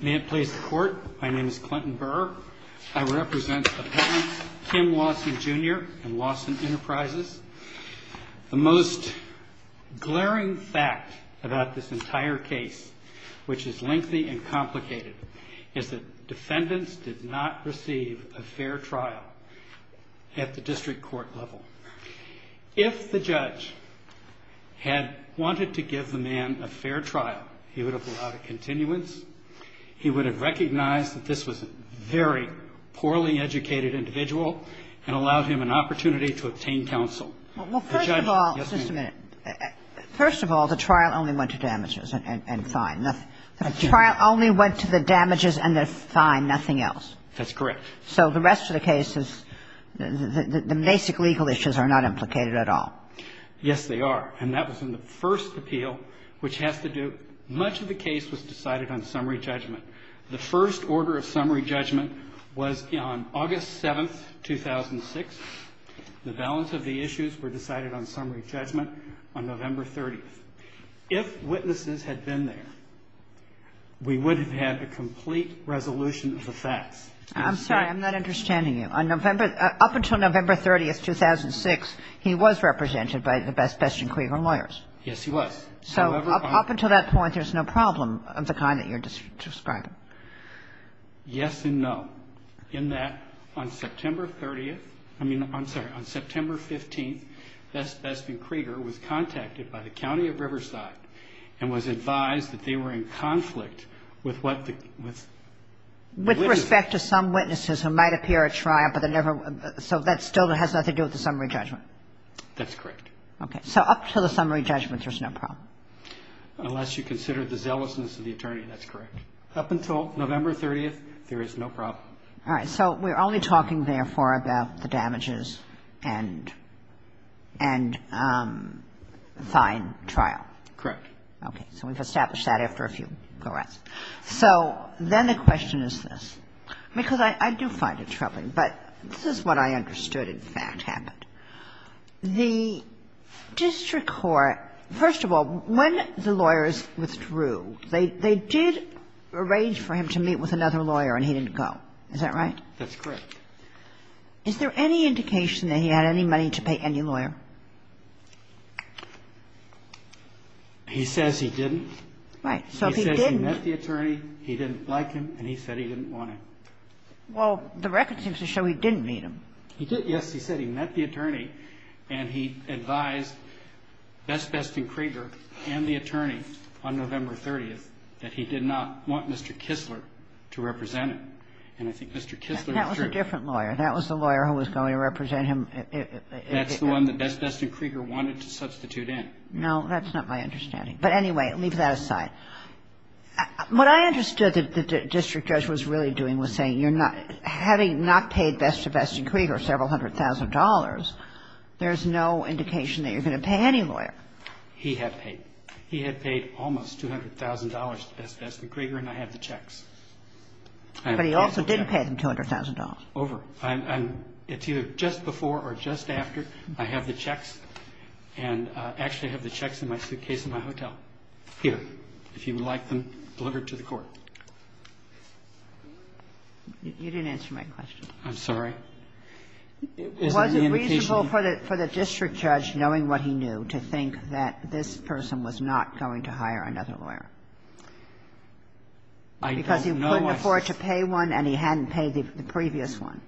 May it please the court, my name is Clinton Burr. I represent the parents, Kim Lawson Jr. and Lawson Enterprises. The most glaring fact about this entire case, which is lengthy and complicated, is that defendants did not receive a fair trial at the district court level. If the judge had wanted to give the man a fair trial, he would have allowed a continuance. He would have recognized that this was a very poorly educated individual and allowed him an opportunity to obtain counsel. Kagan. Well, first of all, just a minute. Yes, ma'am. First of all, the trial only went to damages and fine. The trial only went to the damages and the fine, nothing else. That's correct. So the rest of the case is, the basic legal issues are not implicated at all. Yes, they are. And that was in the first appeal, which has to do, much of the case was decided on summary judgment. The first order of summary judgment was on August 7th, 2006. The balance of the issues were decided on summary judgment on November 30th. If witnesses had been there, we would have had a complete resolution of the facts. I'm sorry. I'm not understanding you. On November – up until November 30th, 2006, he was represented by the Bespestian-Krieger lawyers. Yes, he was. So up until that point, there's no problem of the kind that you're describing? Yes and no. In that, on September 30th – I mean, I'm sorry, on September 15th, Bespestian-Krieger was contacted by the county of Riverside and was advised that they were in conflict with what the – with the litigation. With respect to some witnesses who might appear at trial, but they never – so that still has nothing to do with the summary judgment? That's correct. Okay. So up to the summary judgment, there's no problem? Unless you consider the zealousness of the attorney. That's correct. Up until November 30th, there is no problem. All right. So we're only talking, therefore, about the damages and – and fine trial? Correct. Okay. So we've established that after a few corrects. So then the question is this, because I do find it troubling, but this is what I understood in fact happened. The district court – first of all, when the lawyers withdrew, they did arrange for him to meet with another lawyer and he didn't go. Is that right? That's correct. Is there any indication that he had any money to pay any lawyer? He says he didn't. Right. He says he met the attorney, he didn't like him, and he said he didn't want him. Well, the record seems to show he didn't meet him. He did, yes. He said he met the attorney and he advised Best Best and Krieger and the attorney on November 30th that he did not want Mr. Kistler to represent him. And I think Mr. Kistler withdrew. That was a different lawyer. That was the lawyer who was going to represent him. That's the one that Best Best and Krieger wanted to substitute in. No, that's not my understanding. But anyway, leave that aside. What I understood that the district judge was really doing was saying you're not – having not paid Best to Best and Krieger several hundred thousand dollars, there's no indication that you're going to pay any lawyer. He had paid. He had paid almost $200,000 to Best Best and Krieger and I have the checks. But he also didn't pay them $200,000. Over. It's either just before or just after. I have the checks. And actually, I have the checks in my suitcase in my hotel. Here. If you would like them delivered to the court. You didn't answer my question. I'm sorry. Was it reasonable for the district judge, knowing what he knew, to think that this person was not going to hire another lawyer? I don't know. Because he couldn't afford to pay one and he hadn't paid the previous one.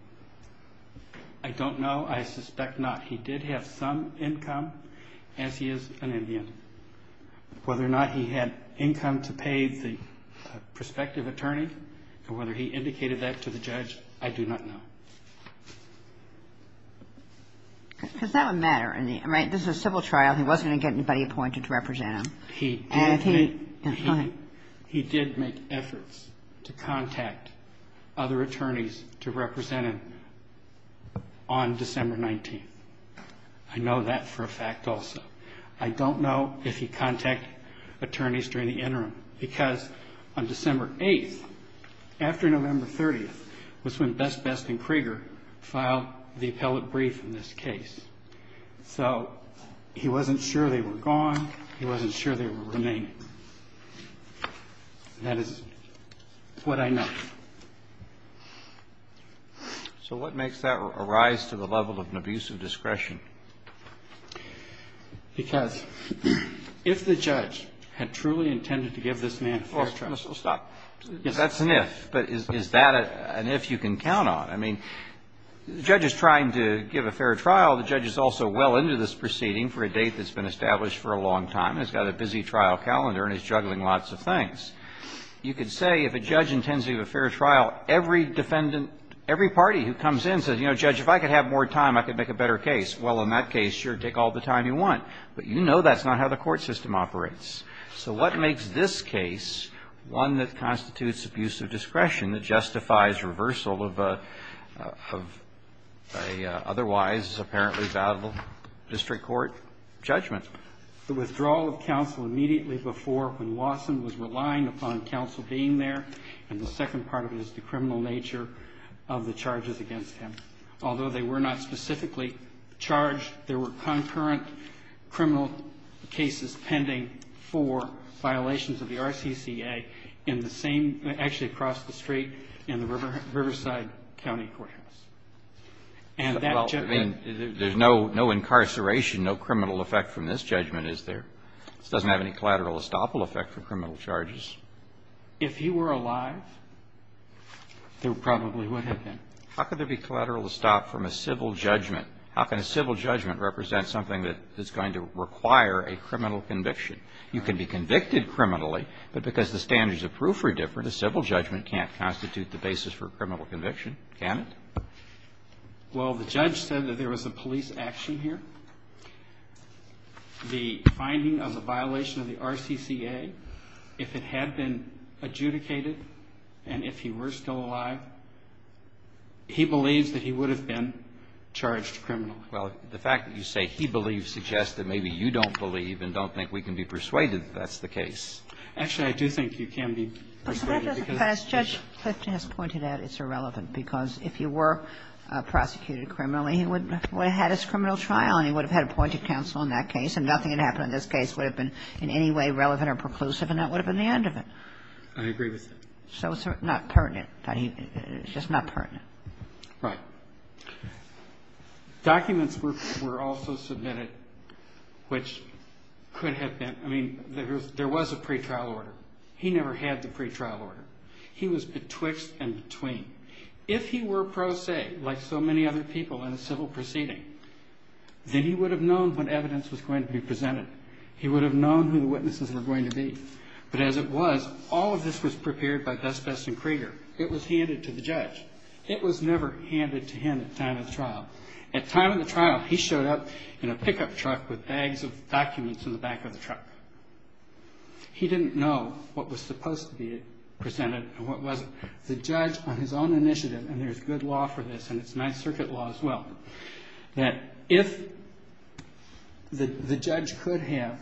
I don't know. I suspect not. He did have some income, as he is an Indian. Whether or not he had income to pay the prospective attorney and whether he indicated that to the judge, I do not know. Because that would matter, right? This is a civil trial. He wasn't going to get anybody appointed to represent him. He did make efforts to contact other attorneys to represent him on December 19th. I know that for a fact also. I don't know if he contacted attorneys during the interim. Because on December 8th, after November 30th, was when Best Best and Krieger filed the appellate brief in this case. So he wasn't sure they were gone. He wasn't sure they were remaining. That is what I know. So what makes that arise to the level of an abuse of discretion? Because if the judge had truly intended to give this man a fair trial. Well, stop. That's an if. But is that an if you can count on? I mean, the judge is trying to give a fair trial. The judge is also well into this proceeding for a date that's been established for a long time and has got a busy trial calendar and is juggling lots of things. You could say if a judge intends to give a fair trial, every defendant, every party who comes in says, you know, Judge, if I could have more time, I could make a better case. Well, in that case, sure, take all the time you want. But you know that's not how the court system operates. So what makes this case one that constitutes abuse of discretion that justifies reversal of a otherwise apparently valuable district court judgment? The withdrawal of counsel immediately before when Lawson was relying upon counsel being there, and the second part of it is the criminal nature of the charges against him. Although they were not specifically charged, there were concurrent criminal cases pending for violations of the RCCA in the same actually across the street in the Riverside County Courthouse. Well, I mean, there's no incarceration, no criminal effect from this judgment, is there? This doesn't have any collateral estoppel effect for criminal charges. If he were alive, there probably would have been. How could there be collateral estoppel from a civil judgment? How can a civil judgment represent something that is going to require a criminal conviction? You can be convicted criminally, but because the standards of proof are different, a civil judgment can't constitute the basis for a criminal conviction, can it? Well, the judge said that there was a police action here. The finding of a violation of the RCCA, if it had been adjudicated, and if he were still alive, he believes that he would have been charged criminally. Well, the fact that you say he believes suggests that maybe you don't believe and don't think we can be persuaded that that's the case. Actually, I do think you can be persuaded because it's true. I think that's a good argument, because if he were prosecuted criminally, he would have had his criminal trial and he would have had appointed counsel in that case, and nothing would have happened in this case that would have been in any way relevant or preclusive, and that would have been the end of it. I agree with that. So it's not pertinent. It's just not pertinent. Right. Documents were also submitted which could have been – I mean, there was a pretrial order. He never had the pretrial order. He was betwixt and between. If he were pro se, like so many other people in a civil proceeding, then he would have known what evidence was going to be presented. He would have known who the witnesses were going to be. But as it was, all of this was prepared by Best Best and Krieger. It was handed to the judge. It was never handed to him at the time of the trial. At the time of the trial, he showed up in a pickup truck with bags of documents in the back of the truck. He didn't know what was supposed to be presented and what wasn't. The judge, on his own initiative, and there's good law for this, and it's Ninth Circuit law as well, that if the judge could have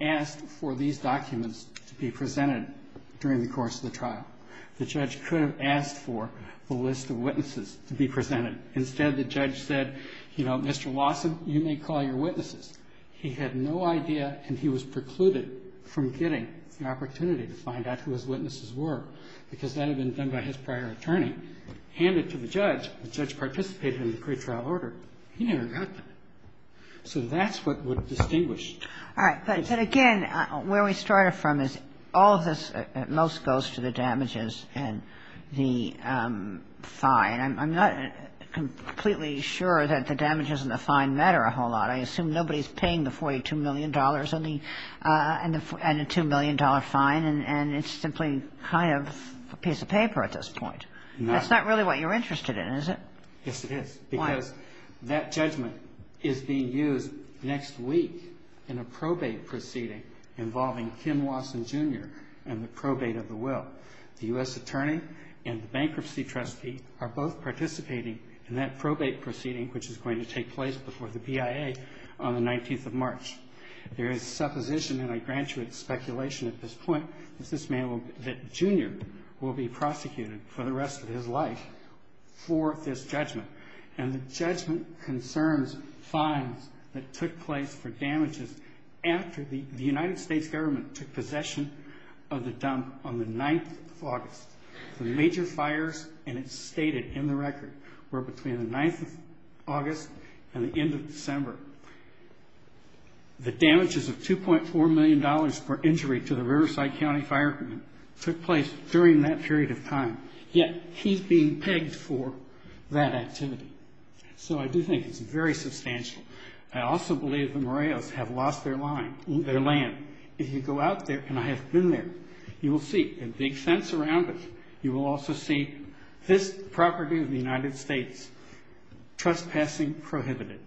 asked for these documents to be presented during the course of the trial, the judge could have asked for the list of witnesses to be presented. Instead, the judge said, you know, Mr. Lawson, you may call your witnesses. He had no idea, and he was precluded from getting the opportunity to find out who his witnesses were, because that had been done by his prior attorney. Handed to the judge, the judge participated in the pretrial order. He never got them. So that's what would distinguish. Kagan. But again, where we started from is all of this most goes to the damages and the fine. I'm not completely sure that the damages and the fine matter a whole lot. I assume nobody's paying the $42 million and the $2 million fine, and it's simply kind of a piece of paper at this point. No. That's not really what you're interested in, is it? Yes, it is. Why? Because that judgment is being used next week in a probate proceeding involving Ken Lawson, Jr. and the probate of the will. The U.S. attorney and the bankruptcy trustee are both participating in that probate proceeding, which is going to take place before the BIA on the 19th of March. There is supposition, and I grant you it's speculation at this point, that this man, that Jr. will be prosecuted for the rest of his life for this judgment. And the judgment concerns fines that took place for damages after the United States government took possession of the dump on the 9th of August. The major fires, and it's stated in the record, were between the 9th of August and the end of December. The damages of $2.4 million for injury to the Riverside County Fire Department took place during that period of time, yet he's being pegged for that activity. So I do think it's very substantial. I also believe the Moreos have lost their land. If you go out there, and I have been there, you will see a big fence around it. You will also see this property of the United States, trespassing prohibited.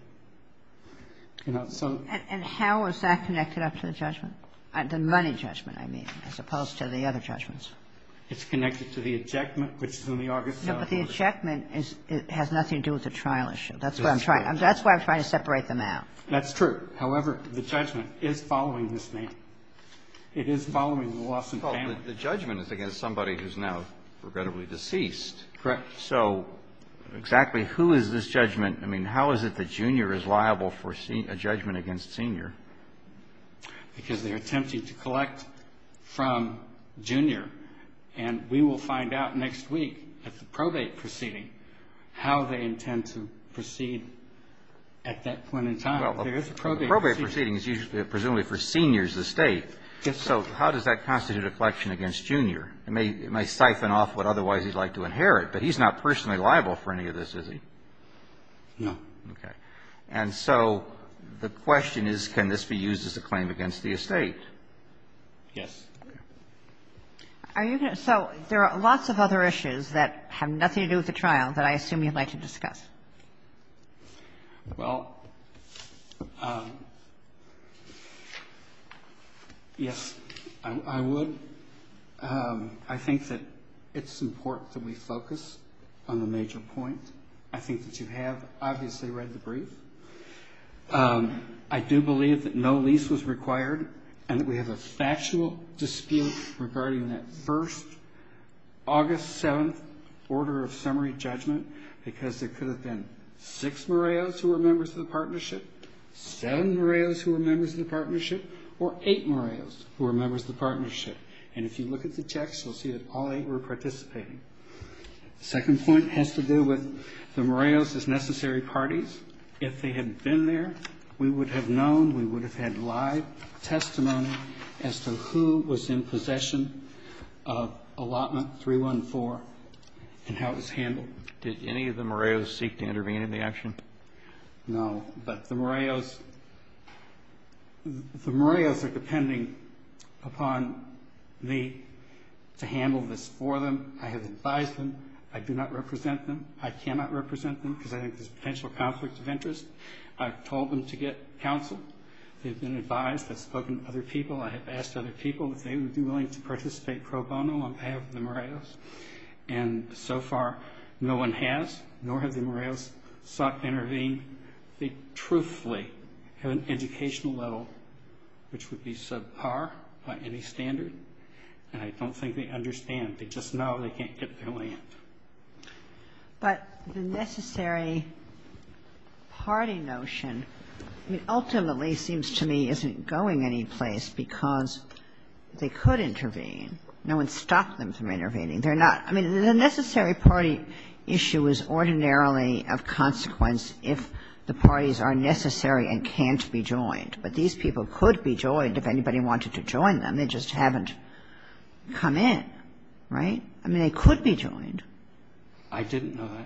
You know, so. And how is that connected up to the judgment? The money judgment, I mean, as opposed to the other judgments. It's connected to the ejectment, which is on the August 24th. No, but the ejectment has nothing to do with the trial issue. That's what I'm trying. That's why I'm trying to separate them out. That's true. However, the judgment is following this man. It is following the Lawson family. The judgment is against somebody who's now regrettably deceased. Correct. So exactly who is this judgment? I mean, how is it that Junior is liable for a judgment against Senior? Because they're attempting to collect from Junior. And we will find out next week at the probate proceeding how they intend to proceed at that point in time. Well, the probate proceeding is usually presumably for Senior's estate. Yes, sir. So how does that constitute a collection against Junior? It may siphon off what otherwise he'd like to inherit, but he's not personally liable for any of this, is he? No. Okay. And so the question is, can this be used as a claim against the estate? Yes. Are you going to – so there are lots of other issues that have nothing to do with the trial that I assume you'd like to discuss. Well, yes, I would. I think that it's important that we focus on the major point. I think that you have, obviously, read the brief. I do believe that no lease was required and that we have a factual dispute regarding that August 7th order of summary judgment because there could have been six Moreos who were members of the partnership, seven Moreos who were members of the partnership, or eight Moreos who were members of the partnership. And if you look at the checks, you'll see that all eight were participating. The second point has to do with the Moreos as necessary parties. If they had been there, we would have known, we would have had live testimony as to who was in possession of allotment 314 and how it was handled. Did any of the Moreos seek to intervene in the action? No, but the Moreos are depending upon me to handle this for them. I have advised them. I do not represent them. I cannot represent them because I think there's a potential conflict of interest. I've told them to get counsel. They've been advised. I've spoken to other people. I have asked other people if they would be willing to participate pro bono on behalf of the Moreos. And so far, no one has, nor have the Moreos sought to intervene. They truthfully have an educational level which would be subpar by any standard. And I don't think they understand. They just know they can't get their land. But the necessary party notion, I mean, ultimately seems to me isn't going anyplace because they could intervene. No one stopped them from intervening. They're not. I mean, the necessary party issue is ordinarily of consequence if the parties are necessary and can't be joined. But these people could be joined if anybody wanted to join them. They just haven't come in. Right? I mean, they could be joined. I didn't know that.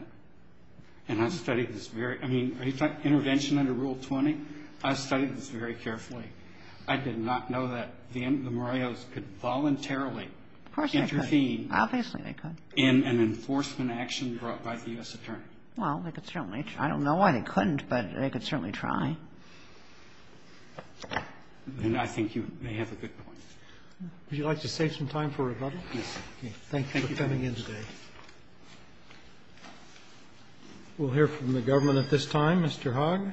And I've studied this very – I mean, are you talking intervention under Rule 20? I've studied this very carefully. I did not know that the Moreos could voluntarily intervene. Of course they could. Obviously they could. In an enforcement action brought by the U.S. Attorney. Well, they could certainly try. I don't know why they couldn't, but they could certainly try. Then I think you may have a good point. Would you like to save some time for rebuttal? Yes. Thank you for coming in today. We'll hear from the government at this time. Mr. Hogg.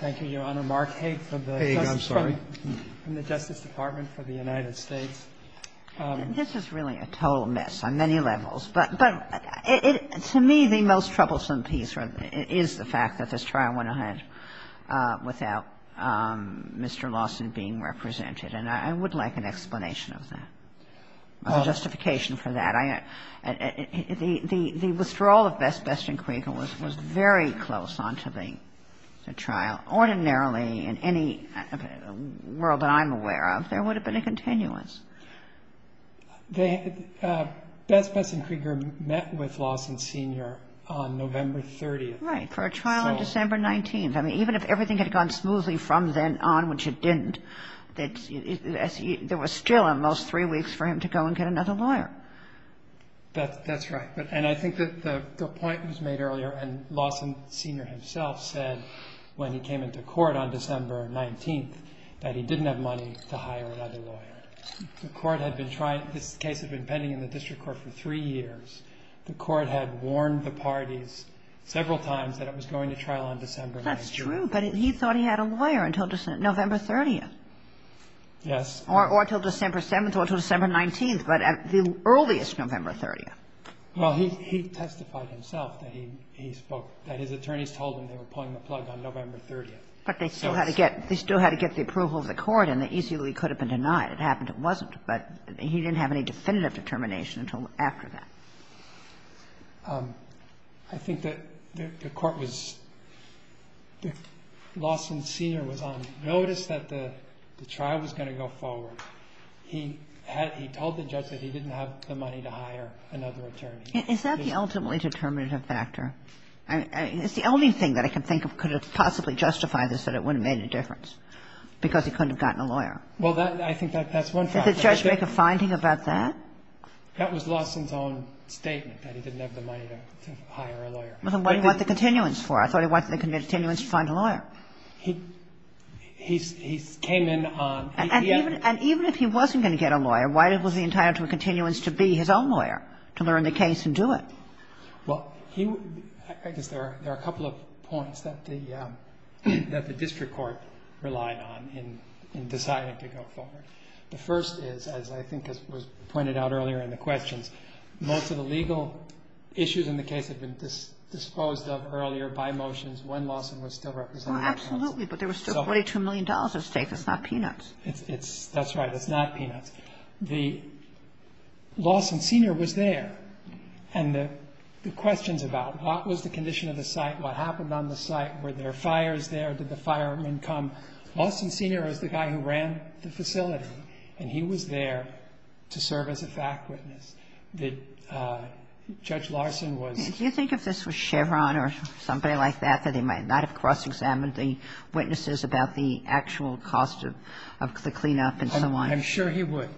Thank you, Your Honor. Mark Haig from the Justice Department for the United States. Haig, I'm sorry. This is really a total mess on many levels. But to me, the most troublesome piece is the fact that this trial went ahead without Mr. Lawson being represented. And I would like an explanation of that, a justification for that. The withdrawal of Best, Best and Krieger was very close onto the trial. Ordinarily, in any world that I'm aware of, there would have been a continuous. Best, Best and Krieger met with Lawson, Sr. on November 30th. Right, for a trial on December 19th. I mean, even if everything had gone smoothly from then on, which it didn't, there was still, at most, three weeks for him to go and get another lawyer. That's right. And I think that the point was made earlier, and Lawson, Sr. himself said, when he came into court on December 19th, that he didn't have money to hire another lawyer. The court had been trying to – this case had been pending in the district court for three years. The court had warned the parties several times that it was going to trial on December 19th. That's true. But he thought he had a lawyer until November 30th. Yes. Or until December 7th or until December 19th, but at the earliest, November 30th. Well, he testified himself that he spoke – that his attorneys told him they were pulling the plug on November 30th. But they still had to get – they still had to get the approval of the court, and they easily could have been denied. It happened it wasn't. But he didn't have any definitive determination until after that. I think that the court was – Lawson, Sr. was on notice that the trial was going to go forward. He had – he told the judge that he didn't have the money to hire another attorney. Is that the ultimately determinative factor? I mean, it's the only thing that I can think of could have possibly justified this, that it wouldn't have made any difference, because he couldn't have gotten a lawyer. Well, that – I think that's one factor. Did the judge make a finding about that? That was Lawson's own statement, that he didn't have the money to hire a lawyer. Well, then what did he want the continuance for? I thought he wanted the continuance to find a lawyer. He came in on – And even if he wasn't going to get a lawyer, why was he entitled to a continuance to be his own lawyer, to learn the case and do it? Well, he – I guess there are a couple of points that the district court relied on in deciding to go forward. The first is, as I think was pointed out earlier in the questions, most of the legal issues in the case had been disposed of earlier by motions when Lawson was still representing counsel. Well, absolutely, but there was still $42 million at stake. It's not peanuts. It's – that's right. It's not peanuts. The – Lawson Sr. was there, and the questions about what was the condition of the site, what happened on the site, were there fires there, did the firemen Lawson Sr. was the guy who ran the facility, and he was there to serve as a fact witness. Judge Larson was – Do you think if this was Chevron or somebody like that, that they might not have cross-examined the witnesses about the actual cost of the cleanup and so on? I'm sure he would.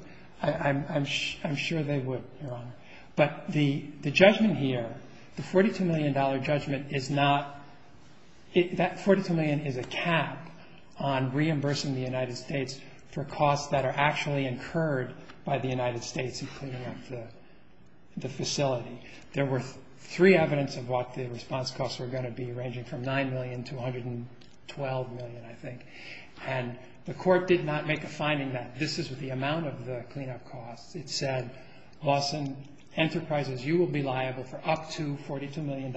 I'm sure they would, Your Honor. But the judgment here, the $42 million judgment, is not – that $42 million is a cap on reimbursing the United States for costs that are actually incurred by the United States in cleaning up the facility. There were three evidence of what the response costs were going to be, ranging from $9 million to $112 million, I think, and the court did not make a finding that this is the amount of the cleanup costs. It said, Lawson, Enterprises, you will be liable for up to $42 million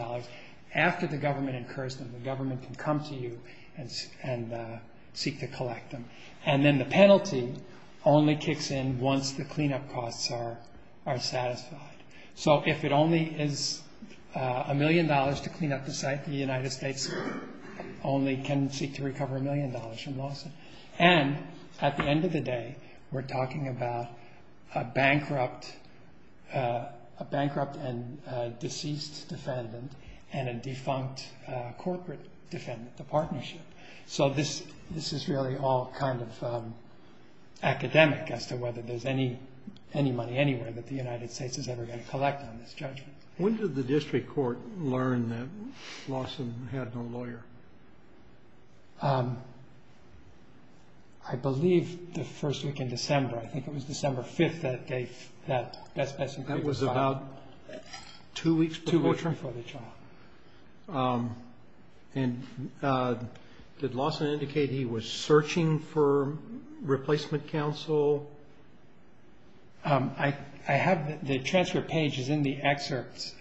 after the government incurs them. The government can come to you and seek to collect them. And then the penalty only kicks in once the cleanup costs are satisfied. So if it only is a million dollars to clean up the site, the United States only can seek to recover a million dollars from Lawson. And at the end of the day, we're talking about a bankrupt and deceased defendant and a defunct corporate defendant, the partnership. So this is really all kind of academic as to whether there's any money anywhere that the United States is ever going to collect on this judgment. When did the district court learn that Lawson had no lawyer? I believe the first week in December. I think it was December 5th that they – that Best Best Integrity was filed. About two weeks before the trial. Two weeks before the trial. And did Lawson indicate he was searching for replacement counsel? I have – the transfer page is in the excerpts.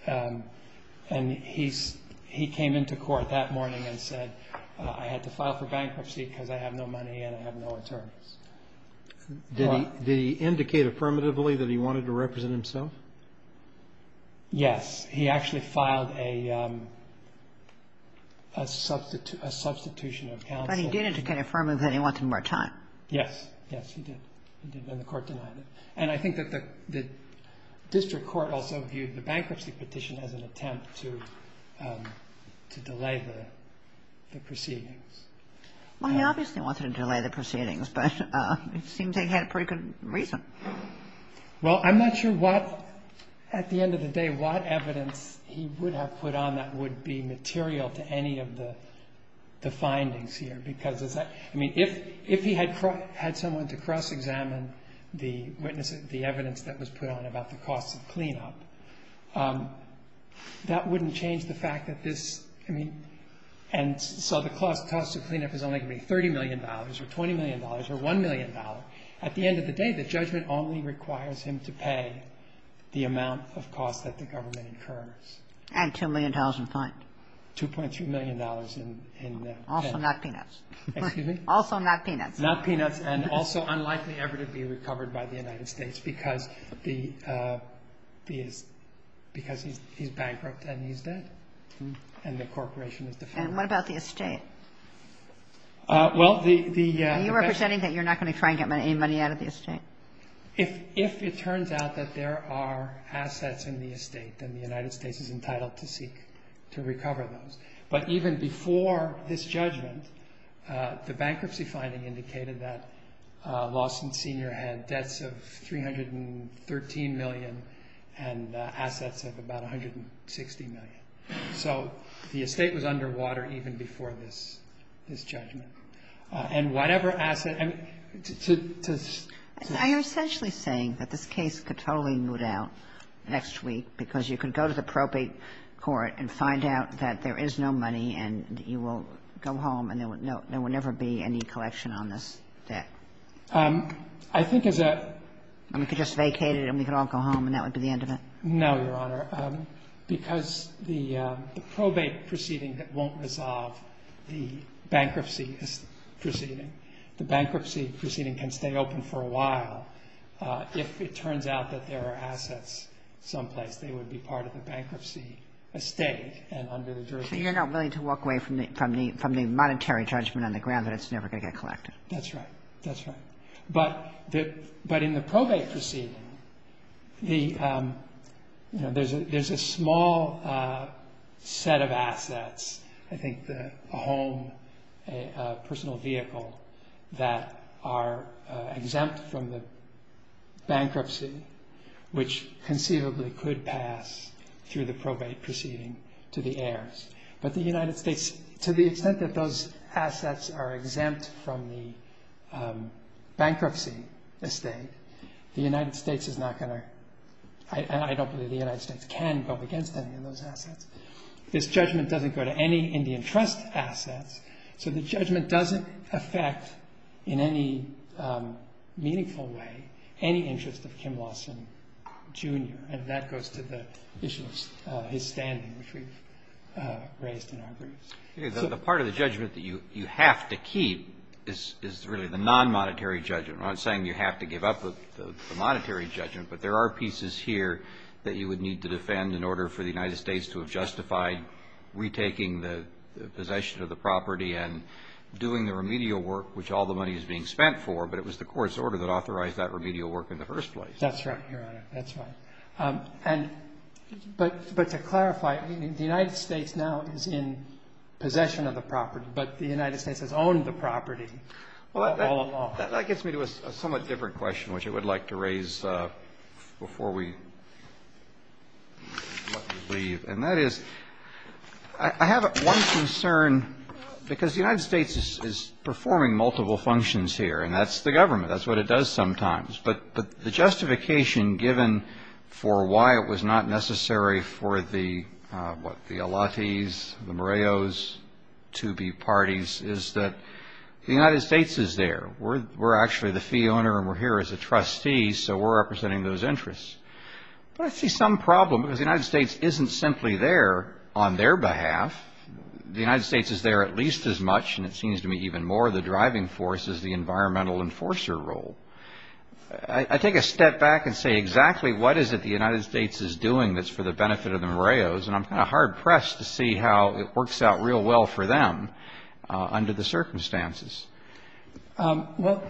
And he came into court that morning and said, I had to file for bankruptcy because I have no money and I have no attorneys. Did he indicate affirmatively that he wanted to represent himself? Yes. He actually filed a substitution of counsel. But he did indicate affirmatively that he wanted more time. Yes. Yes, he did. He did, and the court denied it. And I think that the district court also viewed the bankruptcy petition as an attempt to delay the proceedings. Well, he obviously wanted to delay the proceedings, but it seems they had a pretty good reason. Well, I'm not sure what – at the end of the day, what evidence he would have put on that would be material to any of the findings here, because, I mean, if he had someone to cross-examine the witness, the evidence that was put on about the costs of cleanup, that wouldn't change the fact that this – I mean, and so the cost of cleanup is only going to be $30 million or $20 million or $1 million. At the end of the day, the judgment only requires him to pay the amount of cost that the government incurs. And $2 million in fine. $2.2 million in – Also not peanuts. Excuse me? Also not peanuts. Not peanuts and also unlikely ever to be recovered by the United States because the – because he's bankrupt and he's dead and the corporation is defunct. And what about the estate? Well, the – Are you representing that you're not going to try and get any money out of the estate? If it turns out that there are assets in the estate, then the United States is entitled to seek to recover those. But even before this judgment, the bankruptcy finding indicated that Lawson Sr. had debts of $313 million and assets of about $160 million. So the estate was underwater even before this judgment. And whatever asset – I am essentially saying that this case could totally moot out next week because you could go to the probate court and find out that there is no money and you will go home and there would never be any collection on this debt. I think as a – And we could just vacate it and we could all go home and that would be the end of it? No, Your Honor. Because the probate proceeding that won't resolve the bankruptcy proceeding, the bankruptcy proceeding can stay open for a while. If it turns out that there are assets someplace, they would be part of the bankruptcy estate and under the jurisdiction. So you're not willing to walk away from the monetary judgment on the ground that it's never going to get collected? That's right. That's right. But in the probate proceeding, there's a small set of assets, I think a home, a personal vehicle, that are exempt from the bankruptcy, which conceivably could pass through the probate proceeding to the heirs. But the United States, to the extent that those assets are exempt from the bankruptcy estate, the United States is not going to – I don't believe the United States can go against any of those assets. This judgment doesn't go to any Indian Trust assets, so the judgment doesn't affect in any meaningful way any interest of Kim Lawson, Jr. And that goes to the issue of his standing, which we've raised in our briefs. The part of the judgment that you have to keep is really the non-monetary judgment. I'm not saying you have to give up the monetary judgment, but there are pieces here that you would need to defend in order for the United States to have justified retaking the possession of the property and doing the remedial work, which all the money is being spent for, but it was the court's order that authorized that remedial work in the first place. That's right, Your Honor. That's right. But to clarify, the United States now is in possession of the property, but the United States has owned the property all along. That gets me to a somewhat different question, which I would like to raise before we let you leave, and that is I have one concern because the United States is performing multiple functions here, and that's the government. That's what it does sometimes. But the justification given for why it was not necessary for the, what, the Elatis, the Moreos to be parties, is that the United States is there. We're actually the fee owner, and we're here as a trustee, so we're representing those interests. But I see some problem because the United States isn't simply there on their behalf. The United States is there at least as much, and it seems to me even more, the driving force is the environmental enforcer role. I take a step back and say exactly what is it the United States is doing that's for the benefit of the Moreos, and I'm kind of hard-pressed to see how it works out real well for them under the circumstances. Well,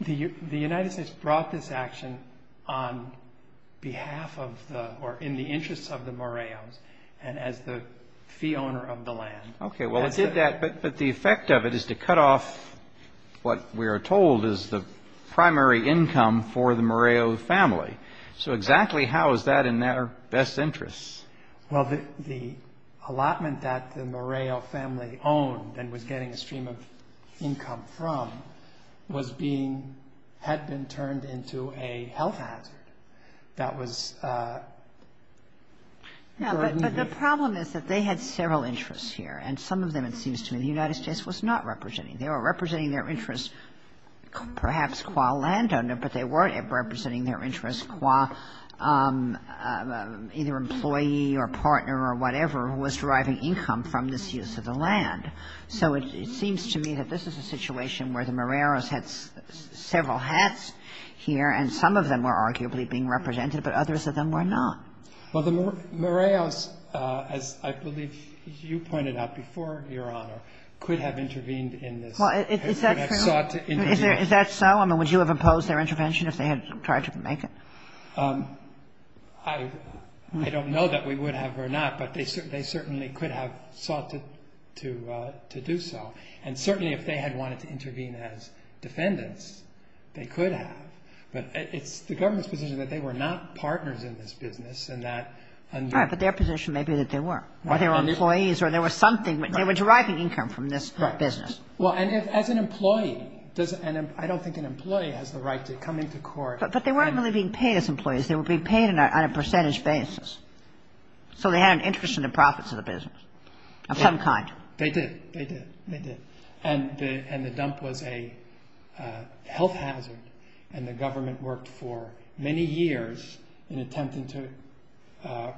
the United States brought this action on behalf of the, or in the interests of the Moreos, and as the fee owner of the land. Okay. Well, it did that, but the effect of it is to cut off what we are told is the primary income for the Moreo family. So exactly how is that in their best interests? Well, the allotment that the Moreo family owned and was getting a stream of income from was being, had been turned into a health hazard. But the problem is that they had several interests here, and some of them it seems to me the United States was not representing. They were representing their interests perhaps qua landowner, but they weren't representing their interests qua either employee or partner or whatever who was driving income from this use of the land. So it seems to me that this is a situation where the Moreos had several hats here, and some of them were arguably being represented, but others of them were not. Well, the Moreos, as I believe you pointed out before, Your Honor, could have intervened in this. Well, is that true? And sought to intervene. Is that so? I mean, would you have imposed their intervention if they had tried to make it? I don't know that we would have or not, but they certainly could have sought to do so. And certainly if they had wanted to intervene as defendants, they could have. But it's the government's position that they were not partners in this business and that under- Right, but their position may be that they were. They were employees or there was something. They were driving income from this business. Right. Well, and as an employee, I don't think an employee has the right to come into court- But they weren't really being paid as employees. They were being paid on a percentage basis. So they had an interest in the profits of the business of some kind. They did. They did. They did. And the dump was a health hazard, and the government worked for many years in attempting to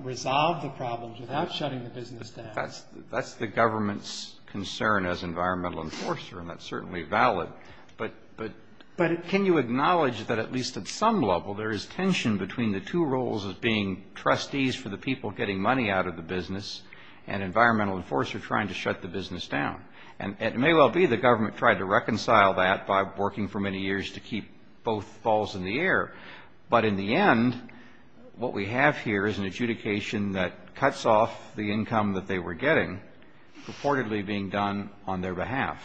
resolve the problem without shutting the business down. That's the government's concern as environmental enforcer, and that's certainly valid. But can you acknowledge that at least at some level there is tension between the two roles of being trustees for the people getting money out of the business and environmental enforcer trying to shut the business down? And it may well be the government tried to reconcile that by working for many years to keep both balls in the air. But in the end, what we have here is an adjudication that cuts off the income that they were getting, purportedly being done on their behalf.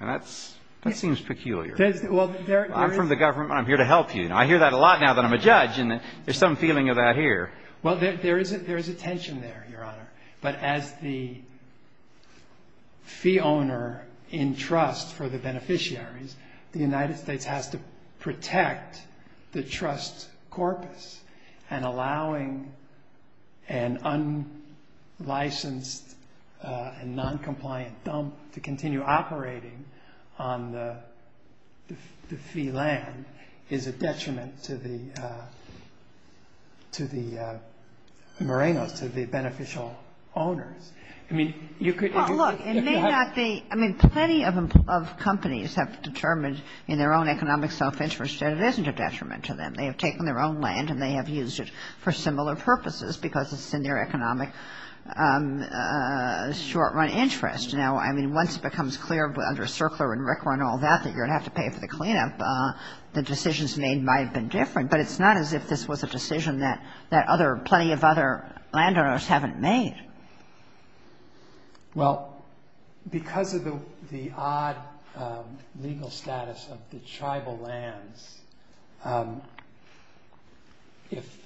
And that seems peculiar. Well, there is- I'm from the government. I'm here to help you. I hear that a lot now that I'm a judge, and there's some feeling of that here. Well, there is a tension there, Your Honor. But as the fee owner in trust for the beneficiaries, the United States has to protect the trust corpus. And allowing an unlicensed and noncompliant dump to continue operating on the fee land is a detriment to the morenos, to the beneficial owners. I mean, you could- Well, look, it may not be-I mean, plenty of companies have determined in their own economic self-interest that it isn't a detriment to them. They have taken their own land, and they have used it for similar purposes because it's in their economic short-run interest. Now, I mean, once it becomes clear under CERCLA and RCRA and all that that you're going to have to pay for the cleanup, the decisions made might have been different. But it's not as if this was a decision that other – plenty of other landowners haven't made. Well, because of the odd legal status of the tribal lands, if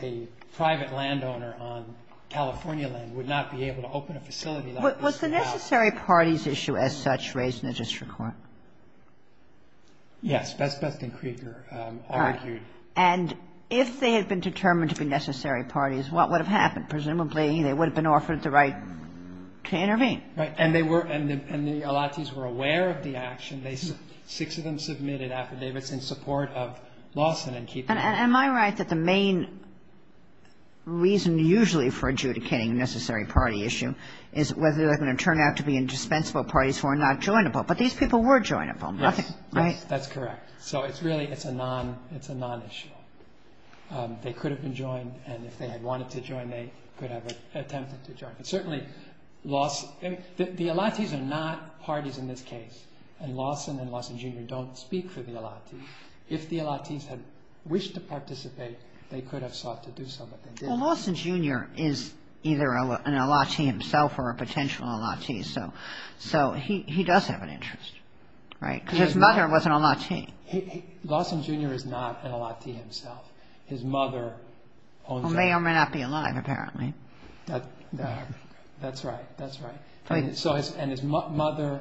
a private landowner on California land would not be able to open a facility like this- Was the necessary parties issue as such raised in the district court? Yes. Best Best and Krieger argued- And if they had been determined to be necessary parties, what would have happened? Presumably, they would have been offered the right to intervene. Right. And they were – and the Elatis were aware of the action. Six of them submitted affidavits in support of Lawson and Keeper. And am I right that the main reason usually for adjudicating a necessary party issue is whether they're going to turn out to be indispensable parties who are not joinable? But these people were joinable. Yes. Right? That's correct. So it's really – it's a non-issue. They could have been joined, and if they had wanted to join, they could have attempted to join. But certainly Lawson – the Elatis are not parties in this case, and Lawson and Lawson Jr. don't speak for the Elatis. If the Elatis had wished to participate, they could have sought to do so, but they didn't. Well, Lawson Jr. is either an Elati himself or a potential Elati, so he does have an interest. Right? Because his mother was an Elati. Lawson Jr. is not an Elati himself. His mother owns a- Who may or may not be alive, apparently. That's right. That's right. And his mother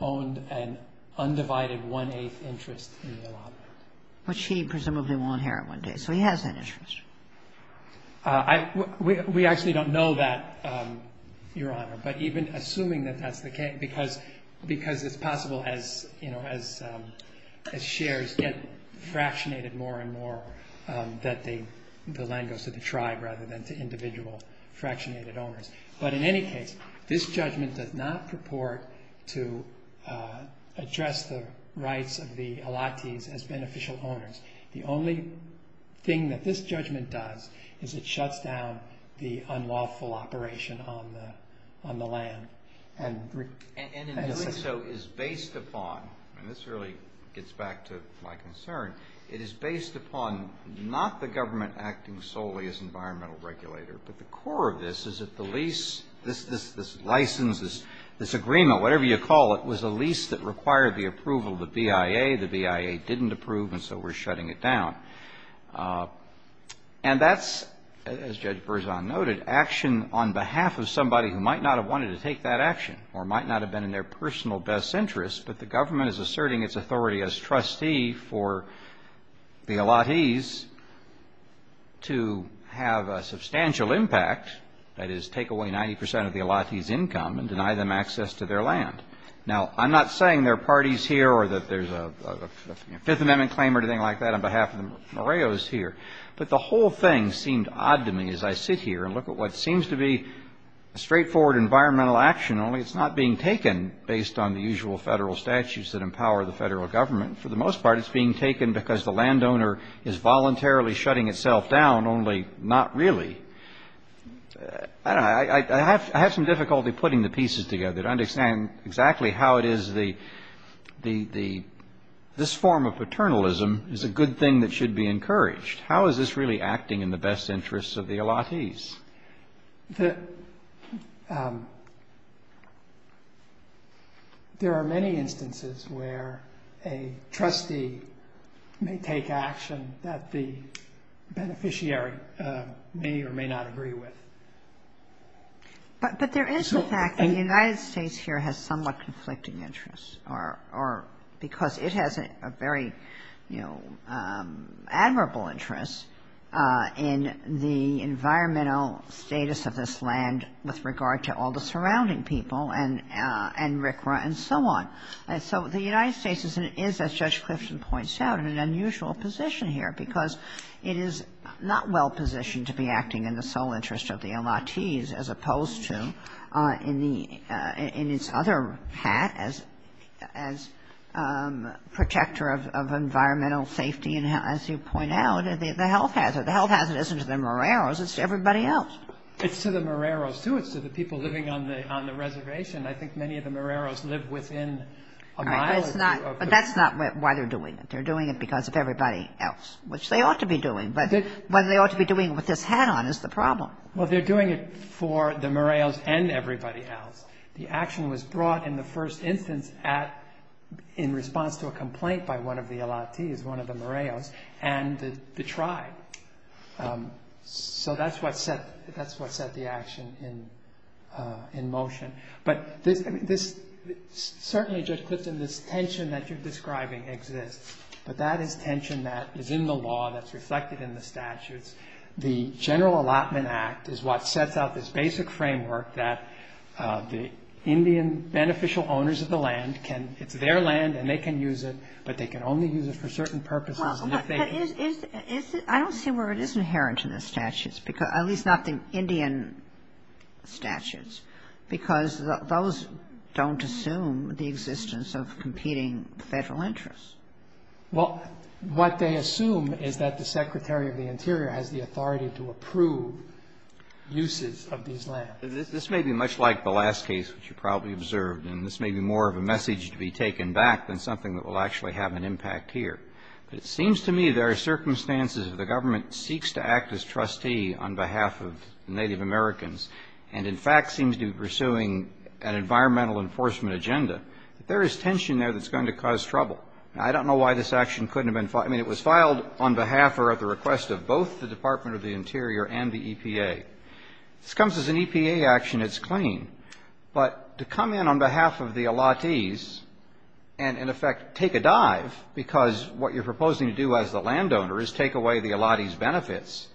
owned an undivided one-eighth interest in the Elatis. Which he presumably will inherit one day. So he has an interest. We actually don't know that, Your Honor, but even assuming that that's the case, because it's possible as shares get fractionated more and more that the land goes to the tribe rather than to individual fractionated owners. But in any case, this judgment does not purport to address the rights of the Elatis as beneficial owners. The only thing that this judgment does is it shuts down the unlawful operation on the land. And in doing so is based upon, and this really gets back to my concern, it is based upon not the government acting solely as environmental regulator, but the core of this is that the lease, this license, this agreement, whatever you call it, was a lease that required the approval of the BIA. The BIA didn't approve, and so we're shutting it down. And that's, as Judge Berzon noted, action on behalf of somebody who might not have wanted to take that action or might not have been in their personal best interest, but the government is asserting its authority as trustee for the Elatis to have a substantial impact, that is take away 90 percent of the Elatis' income and deny them access to their land. Now, I'm not saying there are parties here or that there's a Fifth Amendment claim or anything like that on behalf of the Moreos here, but the whole thing seemed odd to me as I sit here and look at what seems to be a straightforward environmental action, only it's not being taken based on the usual federal statutes that empower the federal government. For the most part, it's being taken because the landowner is voluntarily shutting itself down, only not really. I don't know. I have some difficulty putting the pieces together to understand exactly how it is the – this form of paternalism is a good thing that should be encouraged. How is this really acting in the best interests of the Elatis? The – there are many instances where a trustee may take action that the beneficiary may or may not agree with. But there is the fact that the United States here has somewhat conflicting interests because it has a very, you know, admirable interest in the environmental status of this land with regard to all the surrounding people and RCRA and so on. And so the United States is, as Judge Clifton points out, in an unusual position here because it is not well-positioned to be acting in the sole interest of the Elatis as opposed to in the – in its other hat, as protector of environmental safety. And as you point out, the health hazard. The health hazard isn't to the Moreros. It's to everybody else. It's to the Moreros, too. It's to the people living on the reservation. I think many of the Moreros live within a mile or two of the – All right. But that's not why they're doing it. They're doing it because of everybody else, which they ought to be doing. But whether they ought to be doing it with this hat on is the problem. Well, they're doing it for the Moreros and everybody else. The action was brought in the first instance at – in response to a complaint by one of the Elatis, one of the Moreros, and the tribe. So that's what set – that's what set the action in motion. But this – certainly, Judge Clifton, this tension that you're describing exists. But that is tension that is in the law, that's reflected in the statutes. The General Allotment Act is what sets out this basic framework that the Indian beneficial owners of the land can – it's their land and they can use it, but they can only use it for certain purposes. Well, but is – I don't see where it is inherent in the statutes, at least not the Indian statutes, because those don't assume the existence of competing federal interests. Well, what they assume is that the Secretary of the Interior has the authority to approve uses of these lands. This may be much like the last case, which you probably observed, and this may be more of a message to be taken back than something that will actually have an impact here. But it seems to me there are circumstances where the government seeks to act as trustee on behalf of Native Americans and, in fact, seems to be pursuing an environmental enforcement agenda. There is tension there that's going to cause trouble. Now, I don't know why this action couldn't have been – I mean, it was filed on behalf or at the request of both the Department of the Interior and the EPA. This comes as an EPA action. It's clean. But to come in on behalf of the allottees and, in effect, take a dive, because what you're proposing to do as the landowner is take away the allottees' benefits,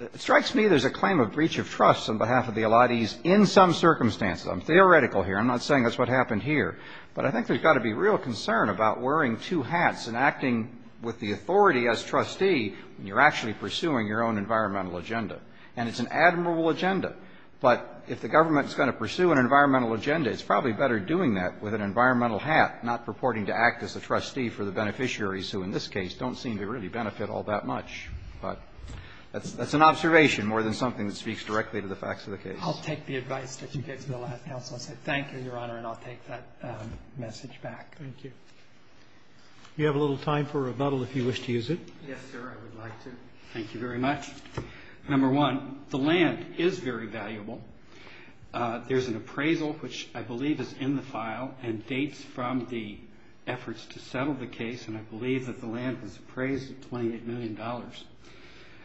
it strikes me there's a claim of breach of trust on behalf of the allottees in some circumstances. I'm theoretical here. I'm not saying that's what happened here. But I think there's got to be real concern about wearing two hats and acting with the authority as trustee when you're actually pursuing your own environmental agenda. And it's an admirable agenda. But if the government is going to pursue an environmental agenda, it's probably better doing that with an environmental hat, not purporting to act as a trustee for the beneficiaries, who in this case don't seem to really benefit all that much. But that's an observation more than something that speaks directly to the facts of the case. I'll take the advice that you gave to the last counsel and say thank you, Your Honor, and I'll take that message back. Thank you. Do you have a little time for rebuttal if you wish to use it? Yes, sir. I would like to. Thank you very much. Number one, the land is very valuable. There's an appraisal, which I believe is in the file, and dates from the efforts to settle the case, and I believe that the land was appraised at $28 million.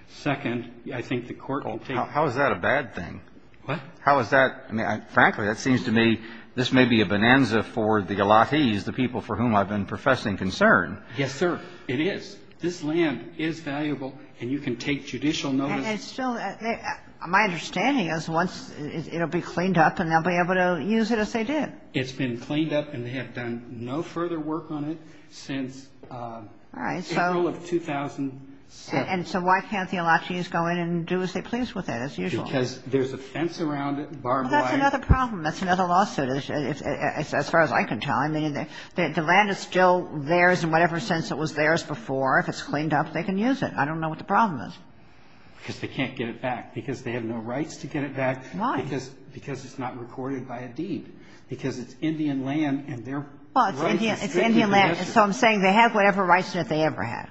Second, I think the court can take it. How is that a bad thing? What? How is that? I mean, frankly, that seems to me this may be a bonanza for the alakes, the people for whom I've been professing concern. Yes, sir. It is. This land is valuable, and you can take judicial notice. It's still my understanding is once it will be cleaned up, and they'll be able to use it as they did. It's been cleaned up, and they have done no further work on it since April of 2007. And so why can't the alakes go in and do as they please with it as usual? Because there's a fence around it, barbed wire. Well, that's another problem. That's another lawsuit, as far as I can tell. I mean, the land is still theirs in whatever sense it was theirs before. If it's cleaned up, they can use it. I don't know what the problem is. Because they can't get it back. Because they have no rights to get it back. Why? Because it's not recorded by a deed. Because it's Indian land, and their rights are strictly registered. Well, it's Indian land. So I'm saying they have whatever rights that they ever had.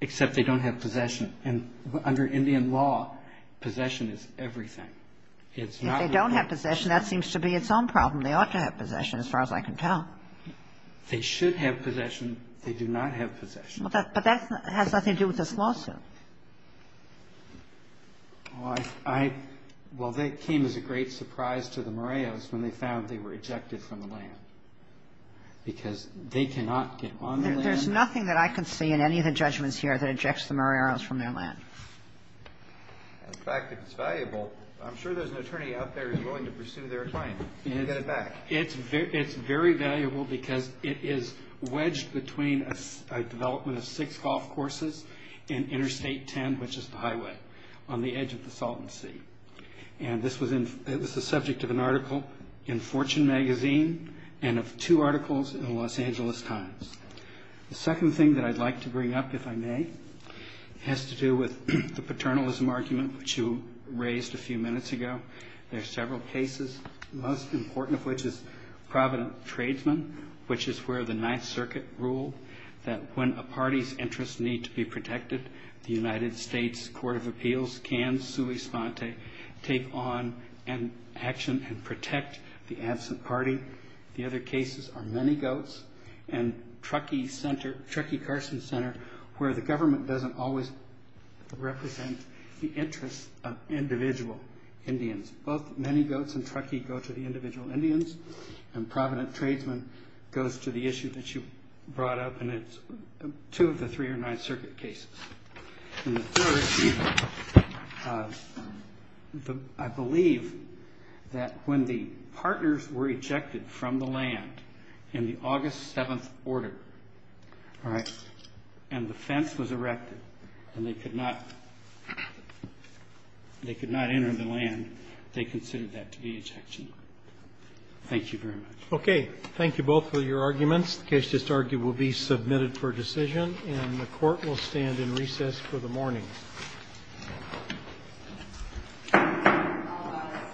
Except they don't have possession. And under Indian law, possession is everything. If they don't have possession, that seems to be its own problem. They ought to have possession, as far as I can tell. They should have possession. They do not have possession. But that has nothing to do with this lawsuit. Well, they came as a great surprise to the Moreos when they found they were ejected from the land. Because they cannot get on their land. There's nothing that I can see in any of the judgments here that ejects the Moreos from their land. In fact, if it's valuable, I'm sure there's an attorney out there who's willing to pursue their claim to get it back. It's very valuable because it is wedged between a development of six golf courses and Interstate 10, which is the highway on the edge of the Salton Sea. And it was the subject of an article in Fortune magazine and of two articles in the Los Angeles Times. The second thing that I'd like to bring up, if I may, has to do with the paternalism argument, which you raised a few minutes ago. There are several cases, the most important of which is Provident Tradesman, which is where the Ninth Circuit ruled that when a party's interests need to be protected, the United States Court of Appeals can sui sponte, take on action and protect the absent party. The other cases are Many Goats and Truckee Carson Center, where the government doesn't always represent the interests of individual Indians. Both Many Goats and Truckee go to the individual Indians, and Provident Tradesman goes to the issue that you brought up, and it's two of the three or nine circuit cases. And the third, I believe that when the partners were ejected from the land in the August 7th order, and the fence was erected and they could not enter the land, they considered that to be ejection. Thank you very much. Roberts. Okay. Thank you both for your arguments. The case just argued will be submitted for decision, and the Court will stand in recess for the morning.